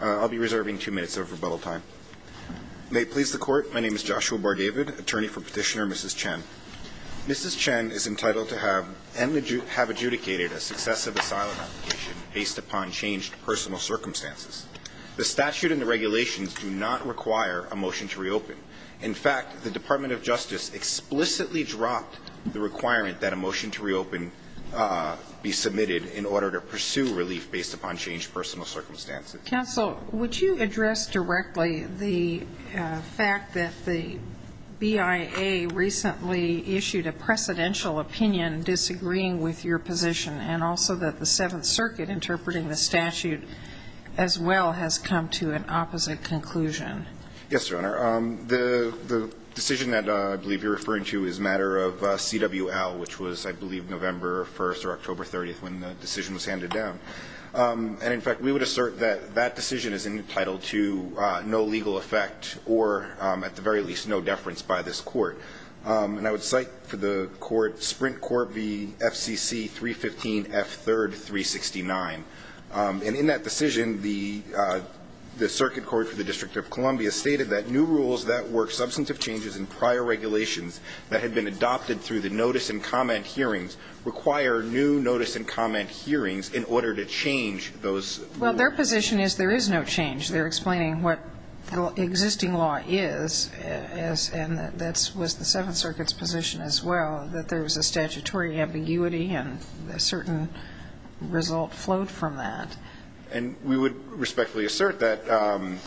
I'll be reserving two minutes of rebuttal time. May it please the Court, my name is Joshua Bargavid, attorney for Petitioner Mrs. Chen. Mrs. Chen is entitled to have and have adjudicated a successive asylum application based upon changed personal circumstances. The statute and the regulations do not require a motion to reopen. In fact, the Department of Justice explicitly dropped the requirement that a motion to reopen be submitted in order to pursue relief based upon changed personal circumstances. Counsel, would you address directly the fact that the BIA recently issued a precedential opinion disagreeing with your position and also that the Seventh Circuit interpreting the statute as well has come to an opposite conclusion? Yes, Your Honor. The decision that I believe you're referring to is a matter of CWL, which was, I believe, November 1st or October 30th when the decision was handed down. And, in fact, we would assert that that decision is entitled to no legal effect or, at the very least, no deference by this Court. And I would cite for the Court Sprint Court v. FCC 315 F3rd 369. And in that decision, the Circuit Court for the District of Columbia stated that new rules that work substantive changes in prior regulations that had been adopted through the notice and comment hearings require new notice and comment hearings in order to change those rules. Well, their position is there is no change. They're explaining what the existing law is, and that was the Seventh Circuit's position as well, that there was a statutory ambiguity and a certain result flowed from that. And we would respectfully assert that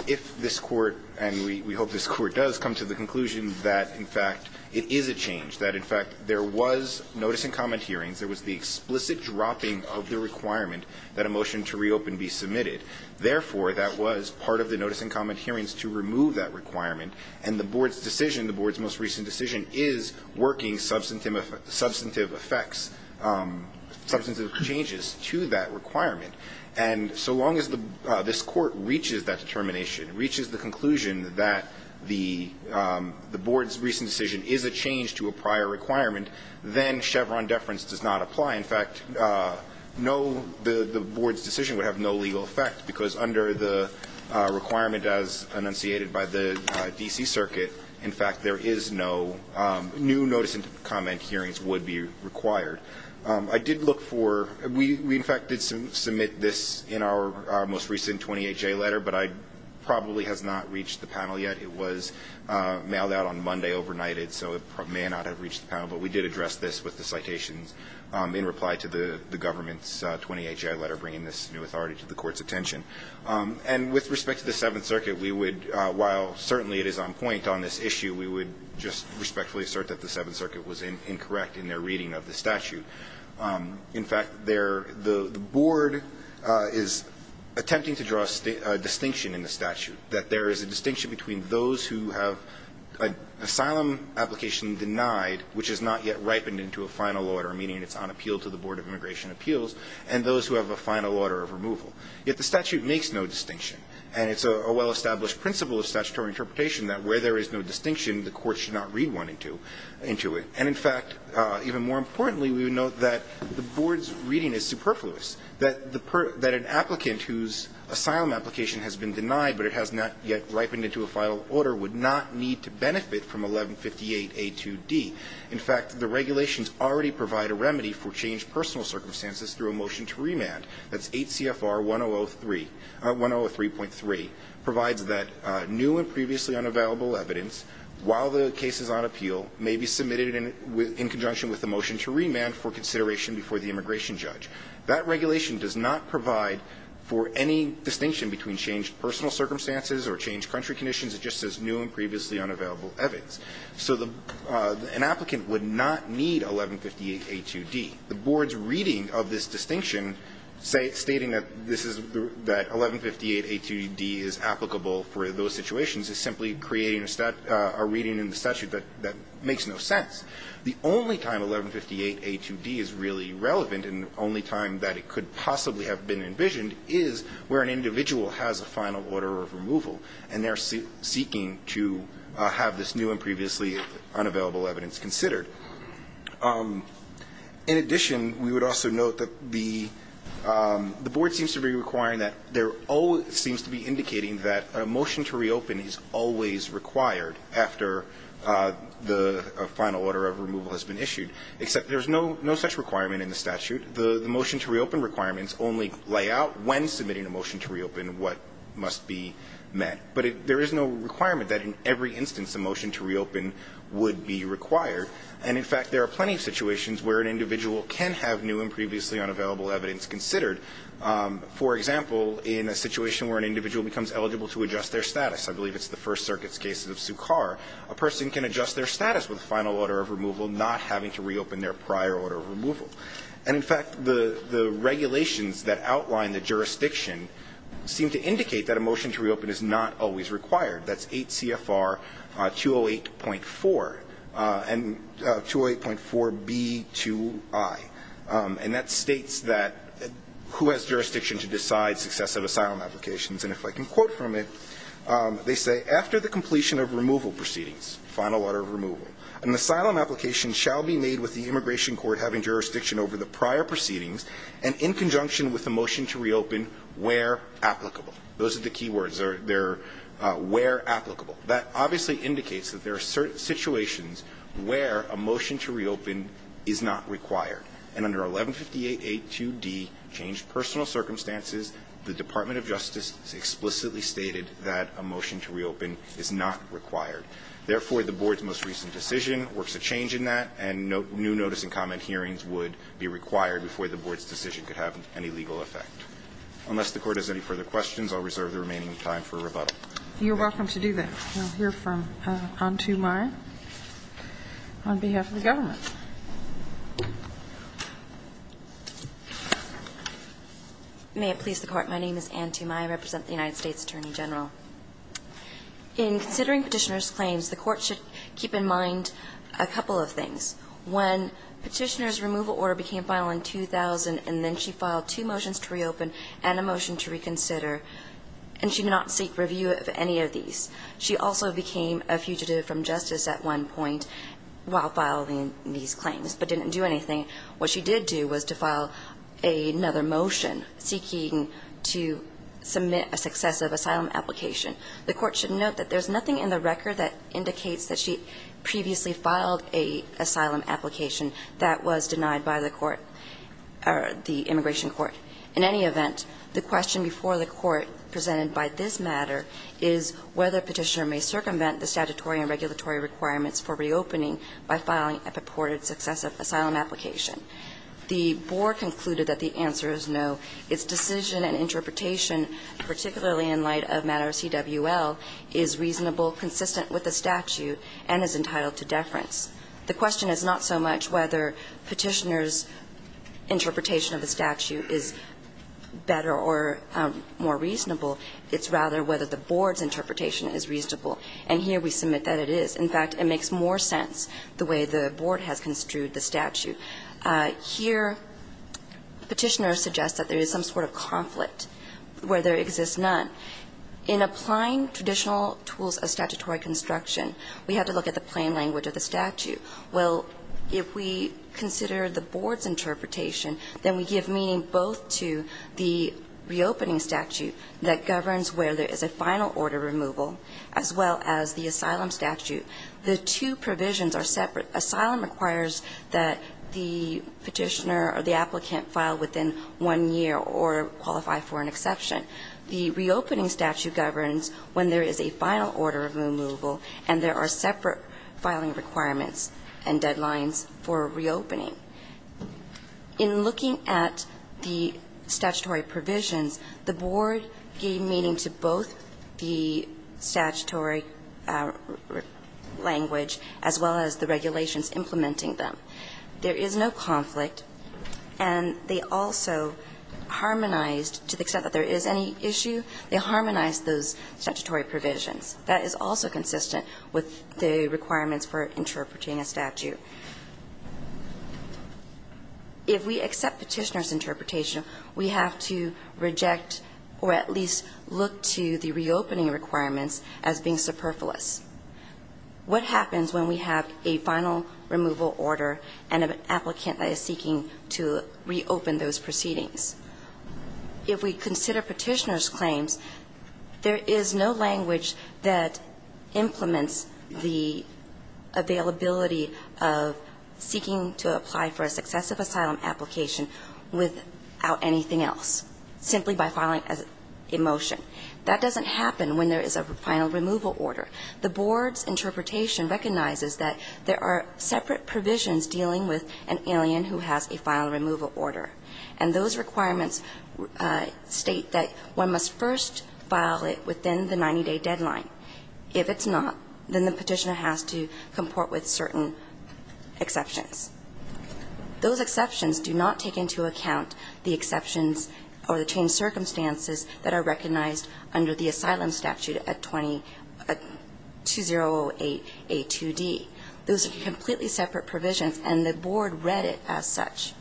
if this Court, and we hope this Court does, come to the conclusion that, in fact, it is a change, that, in fact, there was notice and comment hearings, there was the explicit dropping of the requirement that a motion to reopen be submitted. Therefore, that was part of the notice and comment hearings to remove that requirement. And the Board's decision, the Board's most recent decision, is working substantive effects, substantive changes to that requirement. And so long as this Court reaches that determination, reaches the conclusion that the Board's recent decision is a change to a prior requirement, then Chevron deference does not apply. In fact, no, the Board's decision would have no legal effect because under the requirement as enunciated by the D.C. Circuit, in fact, there is no new notice and comment hearings would be required. I did look for we, in fact, did submit this in our most recent 28-J letter, but it probably has not reached the panel yet. It was mailed out on Monday overnight, so it may not have reached the panel. But we did address this with the citations in reply to the government's 28-J letter bringing this new authority to the Court's attention. And with respect to the Seventh Circuit, we would, while certainly it is on point on this issue, we would just respectfully assert that the Seventh Circuit was incorrect in their reading of the statute. In fact, the Board is attempting to draw a distinction in the statute, that there is a distinction between those who have an asylum application denied, which is not yet ripened into a final order, meaning it's on appeal to the Board of Immigration Appeals, and those who have a final order of removal. Yet the statute makes no distinction. And it's a well-established principle of statutory interpretation that where there is no distinction, the Court should not read one into it. And in fact, even more importantly, we would note that the Board's reading is superfluous, that an applicant whose asylum application has been denied but it has not yet ripened into a final order would not need to benefit from 1158A2D. In fact, the regulations already provide a remedy for changed personal circumstances through a motion to remand, that's 8 CFR 1003.3, provides that new and previously unavailable evidence while the case is on appeal may be submitted in conjunction with a motion to remand for consideration before the immigration judge. That regulation does not provide for any distinction between changed personal circumstances or changed country conditions. It just says new and previously unavailable evidence. So an applicant would not need 1158A2D. The Board's reading of this distinction stating that 1158A2D is applicable for those situations is simply creating a reading in the statute that makes no sense. The only time 1158A2D is really relevant and the only time that it could possibly have been envisioned is where an individual has a final order of removal and they're seeking to have this new and previously unavailable evidence considered. In addition, we would also note that the Board seems to be requiring that there always seems to be indicating that a motion to reopen is always required after the final order of removal has been issued, except there's no such requirement in the statute. The motion to reopen requirements only lay out when submitting a motion to reopen what must be met. But there is no requirement that in every instance a motion to reopen would be required. And, in fact, there are plenty of situations where an individual can have new and previously unavailable evidence considered. For example, in a situation where an individual becomes eligible to adjust their status I believe it's the First Circuit's case of Sukkar, a person can adjust their status with a final order of removal not having to reopen their prior order of removal. And, in fact, the regulations that outline the jurisdiction seem to indicate that a motion to reopen is not always required. That's 8 CFR 208.4 and 208.4B2I. And that states that who has jurisdiction to decide successive asylum applications. And if I can quote from it, they say, After the completion of removal proceedings, final order of removal, an asylum application shall be made with the immigration court having jurisdiction over the prior proceedings and in conjunction with the motion to reopen where applicable. Those are the key words. They're where applicable. That obviously indicates that there are certain situations where a motion to reopen is not required. And under 1158.82d, changed personal circumstances, the Department of Justice explicitly stated that a motion to reopen is not required. Therefore, the board's most recent decision works a change in that, and new notice and comment hearings would be required before the board's decision could have any legal effect. Unless the Court has any further questions, I'll reserve the remaining time for rebuttal. You're welcome to do that. We'll hear from Antumay on behalf of the government. May it please the Court. My name is Anne Tumay. I represent the United States Attorney General. In considering Petitioner's claims, the Court should keep in mind a couple of things. One, Petitioner's removal order became final in 2000, and then she filed two motions to reopen and a motion to reconsider, and she did not seek review of any of these. She also became a fugitive from justice at one point while filing these claims but didn't do anything. What she did do was to file another motion seeking to submit a successive asylum application. The Court should note that there's nothing in the record that indicates that she previously filed an asylum application that was denied by the court or the immigration court. In any event, the question before the Court presented by this matter is whether Petitioner may circumvent the statutory and regulatory requirements for reopening by filing a purported successive asylum application. The board concluded that the answer is no. Its decision and interpretation, particularly in light of matter of CWL, is reasonable, consistent with the statute, and is entitled to deference. The question is not so much whether Petitioner's interpretation of the statute is better or more reasonable. It's rather whether the board's interpretation is reasonable. And here we submit that it is. In fact, it makes more sense the way the board has construed the statute. Here Petitioner suggests that there is some sort of conflict where there exists none. In applying traditional tools of statutory construction, we have to look at the plain language of the statute. Well, if we consider the board's interpretation, then we give meaning both to the reopening statute that governs where there is a final order removal, as well as the asylum statute. The two provisions are separate. Asylum requires that the Petitioner or the applicant file within one year or qualify for an exception. The reopening statute governs when there is a final order of removal and there are separate filing requirements and deadlines for reopening. In looking at the statutory provisions, the board gave meaning to both the statutory language as well as the regulations implementing them. There is no conflict. And they also harmonized, to the extent that there is any issue, they harmonized those statutory provisions. That is also consistent with the requirements for interpreting a statute. If we accept Petitioner's interpretation, we have to reject or at least look to the reopening requirements as being superfluous. What happens when we have a final removal order and an applicant that is seeking to reopen those proceedings? If we consider Petitioner's claims, there is no language that implements the availability of seeking to apply for a successive asylum application without anything else, simply by filing a motion. That doesn't happen when there is a final removal order. The board's interpretation recognizes that there are separate provisions dealing with an alien who has a final removal order. And those requirements state that one must first file it within the 90-day deadline. If it's not, then the Petitioner has to comport with certain exceptions. Those exceptions do not take into account the exceptions or the changed circumstances that are recognized under the asylum statute at 2008A2D. Those are completely separate provisions, and the board read it as such.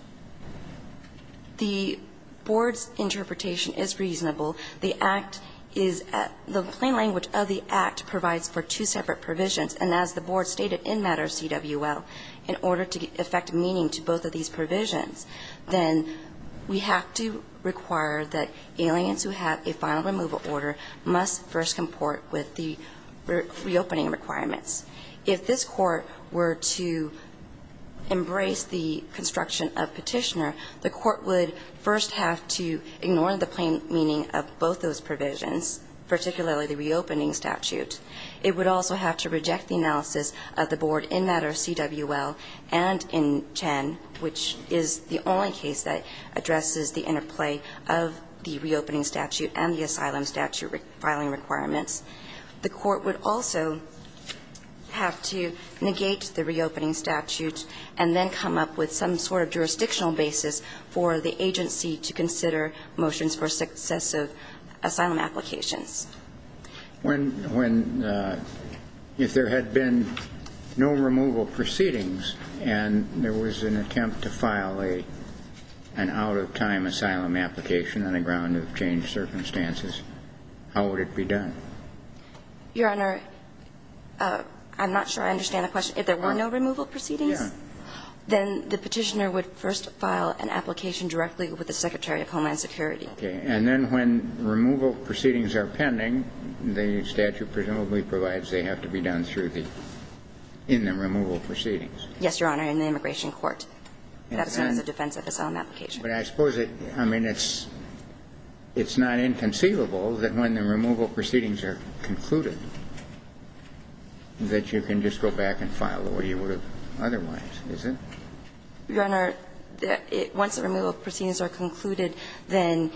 The board's interpretation is reasonable. The Act is at the plain language of the Act provides for two separate provisions. And as the board stated in Matter CWL, in order to affect meaning to both of these then we have to require that aliens who have a final removal order must first comport with the reopening requirements. If this Court were to embrace the construction of Petitioner, the Court would first have to ignore the plain meaning of both those provisions, particularly the reopening statute. It would also have to reject the analysis of the board in Matter CWL and in Chen, which is the only case that addresses the interplay of the reopening statute and the asylum statute filing requirements. The Court would also have to negate the reopening statute and then come up with some sort of jurisdictional basis for the agency to consider motions for successive asylum applications. If there had been no removal proceedings and there was an attempt to file an out-of-time asylum application on the ground of changed circumstances, how would it be done? Your Honor, I'm not sure I understand the question. If there were no removal proceedings, then the Petitioner would first file an application directly with the Secretary of Homeland Security. Okay. And then when removal proceedings are pending, the statute presumably provides they have to be done through the – in the removal proceedings. Yes, Your Honor, in the immigration court. And then the defense of asylum application. But I suppose it – I mean, it's not inconceivable that when the removal proceedings are concluded that you can just go back and file the way you would have otherwise, is it? Your Honor, once the removal proceedings are concluded, then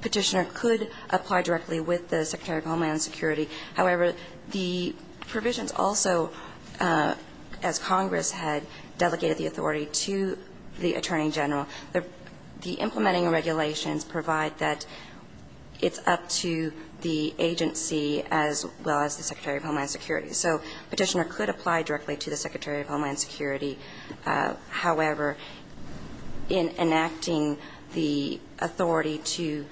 Petitioner could apply directly with the Secretary of Homeland Security. However, the provisions also, as Congress had delegated the authority to the Attorney General, the implementing regulations provide that it's up to the agency as well as the Secretary of Homeland Security. So Petitioner could apply directly to the Secretary of Homeland Security. However, in enacting the authority to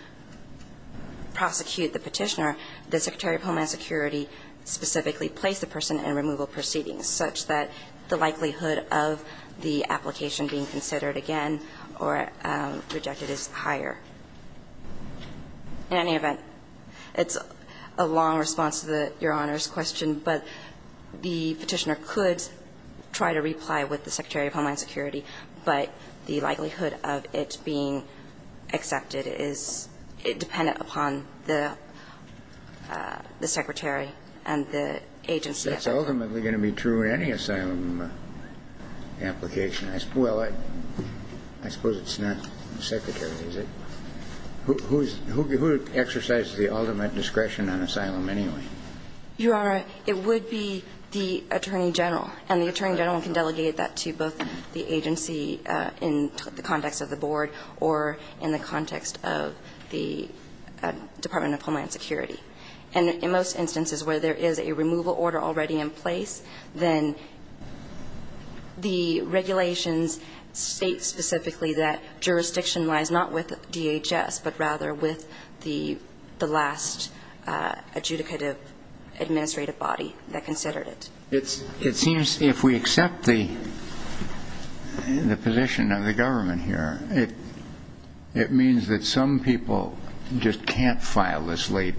prosecute the Petitioner, the Secretary of Homeland Security specifically placed the person in removal proceedings, such that the likelihood of the application being considered again or rejected is higher. In any event, it's a long response to Your Honor's question, but the Petitioner could try to reply with the Secretary of Homeland Security, but the likelihood of it being accepted is dependent upon the Secretary and the agency. That's ultimately going to be true in any asylum application. Well, I suppose it's not the Secretary, is it? Who exercises the ultimate discretion on asylum anyway? Your Honor, it would be the Attorney General. And the Attorney General can delegate that to both the agency in the context of the board or in the context of the Department of Homeland Security. And in most instances where there is a removal order already in place, then the regulations state specifically that jurisdiction-wise, not with DHS, but rather with the last adjudicative administrative body that considered it. It seems if we accept the position of the government here, it means that some people just can't file this late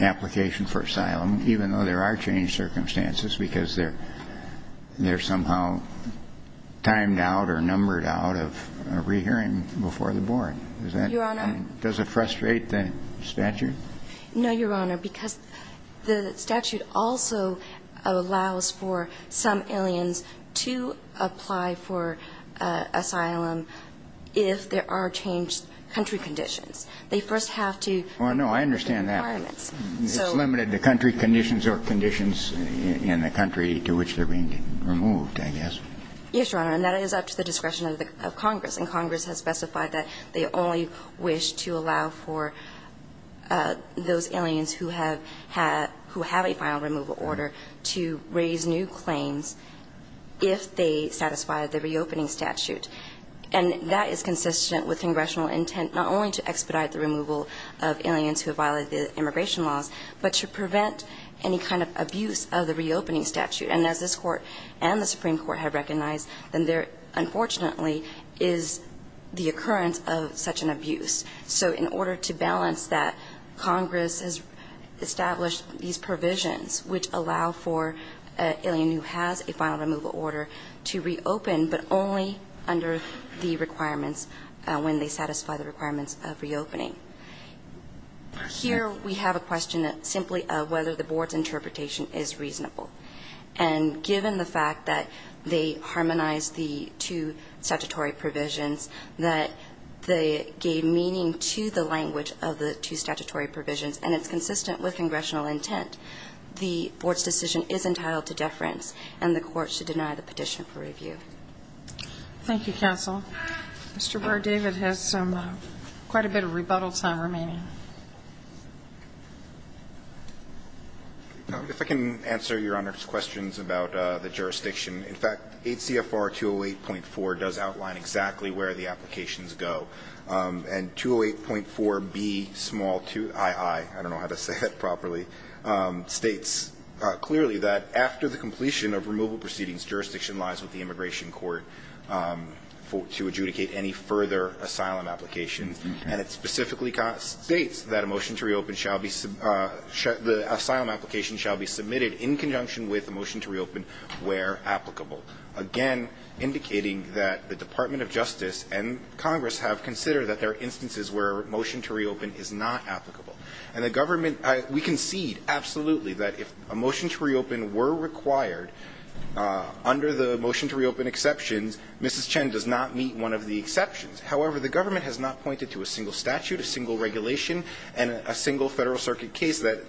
application for asylum, even though there are changed circumstances because they're somehow timed out or numbered out of a rehearing before the board. Your Honor? Does it frustrate the statute? No, Your Honor, because the statute also allows for some aliens to apply for asylum if there are changed country conditions. They first have to meet the requirements. Well, no, I understand that. It's limited to country conditions or conditions in the country to which they're being removed, I guess. Yes, Your Honor. And that is up to the discretion of Congress. And Congress has specified that they only wish to allow for those aliens who have a final removal order to raise new claims if they satisfy the reopening statute. And that is consistent with congressional intent not only to expedite the removal of aliens who have violated the immigration laws, but to prevent any kind of abuse of the reopening statute. And as this Court and the Supreme Court have recognized, then there unfortunately is the occurrence of such an abuse. So in order to balance that, Congress has established these provisions which allow for an alien who has a final removal order to reopen, but only under the requirements when they satisfy the requirements of reopening. Here we have a question simply of whether the Board's interpretation is reasonable. And given the fact that they harmonized the two statutory provisions, that they gave meaning to the language of the two statutory provisions, and it's consistent with congressional intent, the Board's decision is entitled to deference, and the Court should deny the petition for review. Thank you, counsel. Mr. Burr, David has some quite a bit of rebuttal time remaining. If I can answer Your Honor's questions about the jurisdiction. In fact, 8 CFR 208.4 does outline exactly where the applications go. And 208.4B2II, I don't know how to say that properly, states clearly that after the completion of removal proceedings, jurisdiction lies with the immigration court to adjudicate any further asylum applications. And it specifically states that a motion to reopen shall be the asylum application shall be submitted in conjunction with a motion to reopen where applicable. Again, indicating that the Department of Justice and Congress have considered that there are instances where a motion to reopen is not applicable. And the government, we concede absolutely that if a motion to reopen were required under the motion to reopen exceptions, Mrs. Chen does not meet one of the exceptions. However, the government has not pointed to a single statute, a single regulation, and a single Federal Circuit case that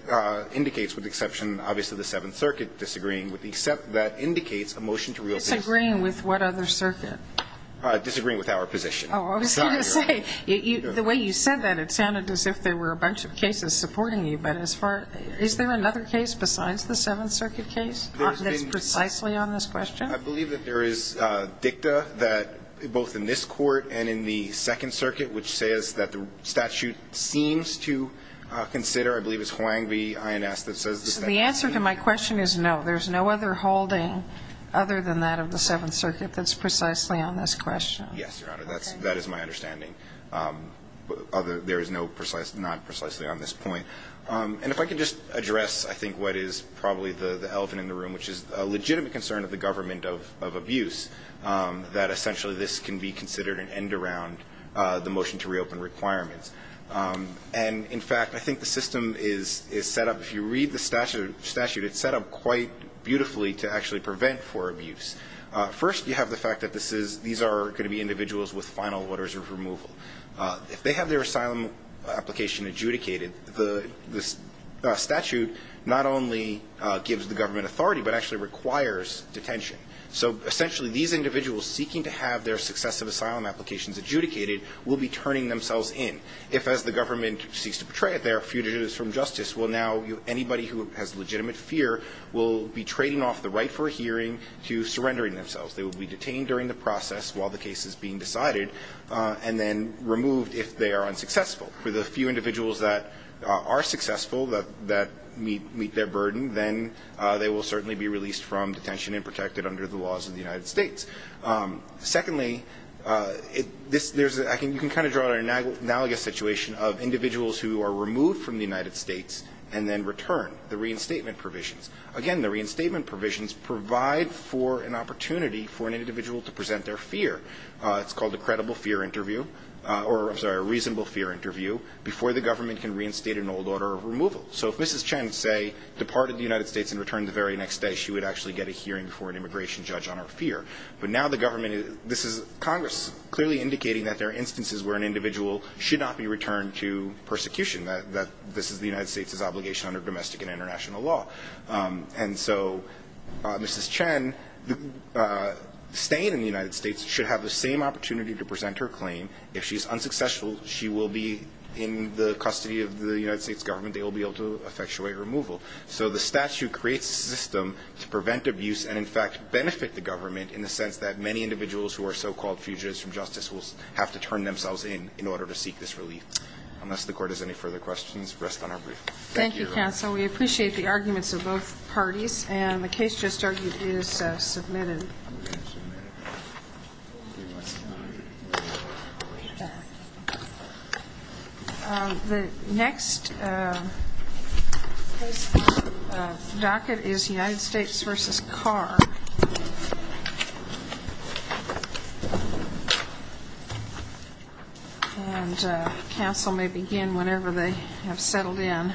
indicates with exception, obviously, the Seventh Circuit disagreeing with the exception that indicates a motion to reopen. Disagreeing with what other circuit? Disagreeing with our position. Oh, I was going to say, the way you said that, it sounded as if there were a bunch of cases supporting you. But as far as – is there another case besides the Seventh Circuit case that's precisely on this question? I believe that there is dicta that both in this Court and in the Second Circuit, which says that the statute seems to consider. I believe it's Huang v. INS that says that. The answer to my question is no. There's no other holding other than that of the Seventh Circuit that's precisely on this question. Yes, Your Honor. That is my understanding. There is no precise – not precisely on this point. And if I could just address, I think, what is probably the elephant in the room, which is a legitimate concern of the government of abuse, that essentially this can be considered an end around the motion to reopen requirements. And, in fact, I think the system is set up – if you read the statute, it's set up quite beautifully to actually prevent for abuse. First, you have the fact that this is – these are going to be individuals with final orders of removal. If they have their asylum application adjudicated, the statute not only gives the government authority but actually requires detention. So, essentially, these individuals seeking to have their successive asylum applications adjudicated will be turning themselves in. If, as the government seeks to portray it, they are fugitives from justice, well, now anybody who has legitimate fear will be trading off the right for a hearing to surrendering themselves. They will be detained during the process while the case is being decided and then removed if they are unsuccessful. For the few individuals that are successful, that meet their burden, then they will certainly be released from detention and protected under the laws of the United States. Secondly, there's – you can kind of draw an analogous situation of individuals who are removed from the United States and then return, the reinstatement provisions. Again, the reinstatement provisions provide for an opportunity for an individual to present their fear. It's called a credible fear interview – or, I'm sorry, a reasonable fear interview before the government can reinstate an old order of removal. So if Mrs. Chen, say, departed the United States and returned the very next day, she would actually get a hearing before an immigration judge on her fear. But now the government – this is Congress clearly indicating that there are instances where an individual should not be returned to persecution, that this is the United States' obligation under domestic and international law. And so Mrs. Chen, staying in the United States, should have the same opportunity to present her claim. If she's unsuccessful, she will be in the custody of the United States government. They will be able to effectuate removal. So the statute creates a system to prevent abuse and, in fact, benefit the government in the sense that many individuals who are so-called fugitives from justice will have to turn themselves in in order to seek this relief. Unless the Court has any further questions, rest on our brief. Thank you, Counsel. We appreciate the arguments of both parties, and the case just argued is submitted. The next case docket is United States v. Carr. And Counsel may begin whenever they have settled in.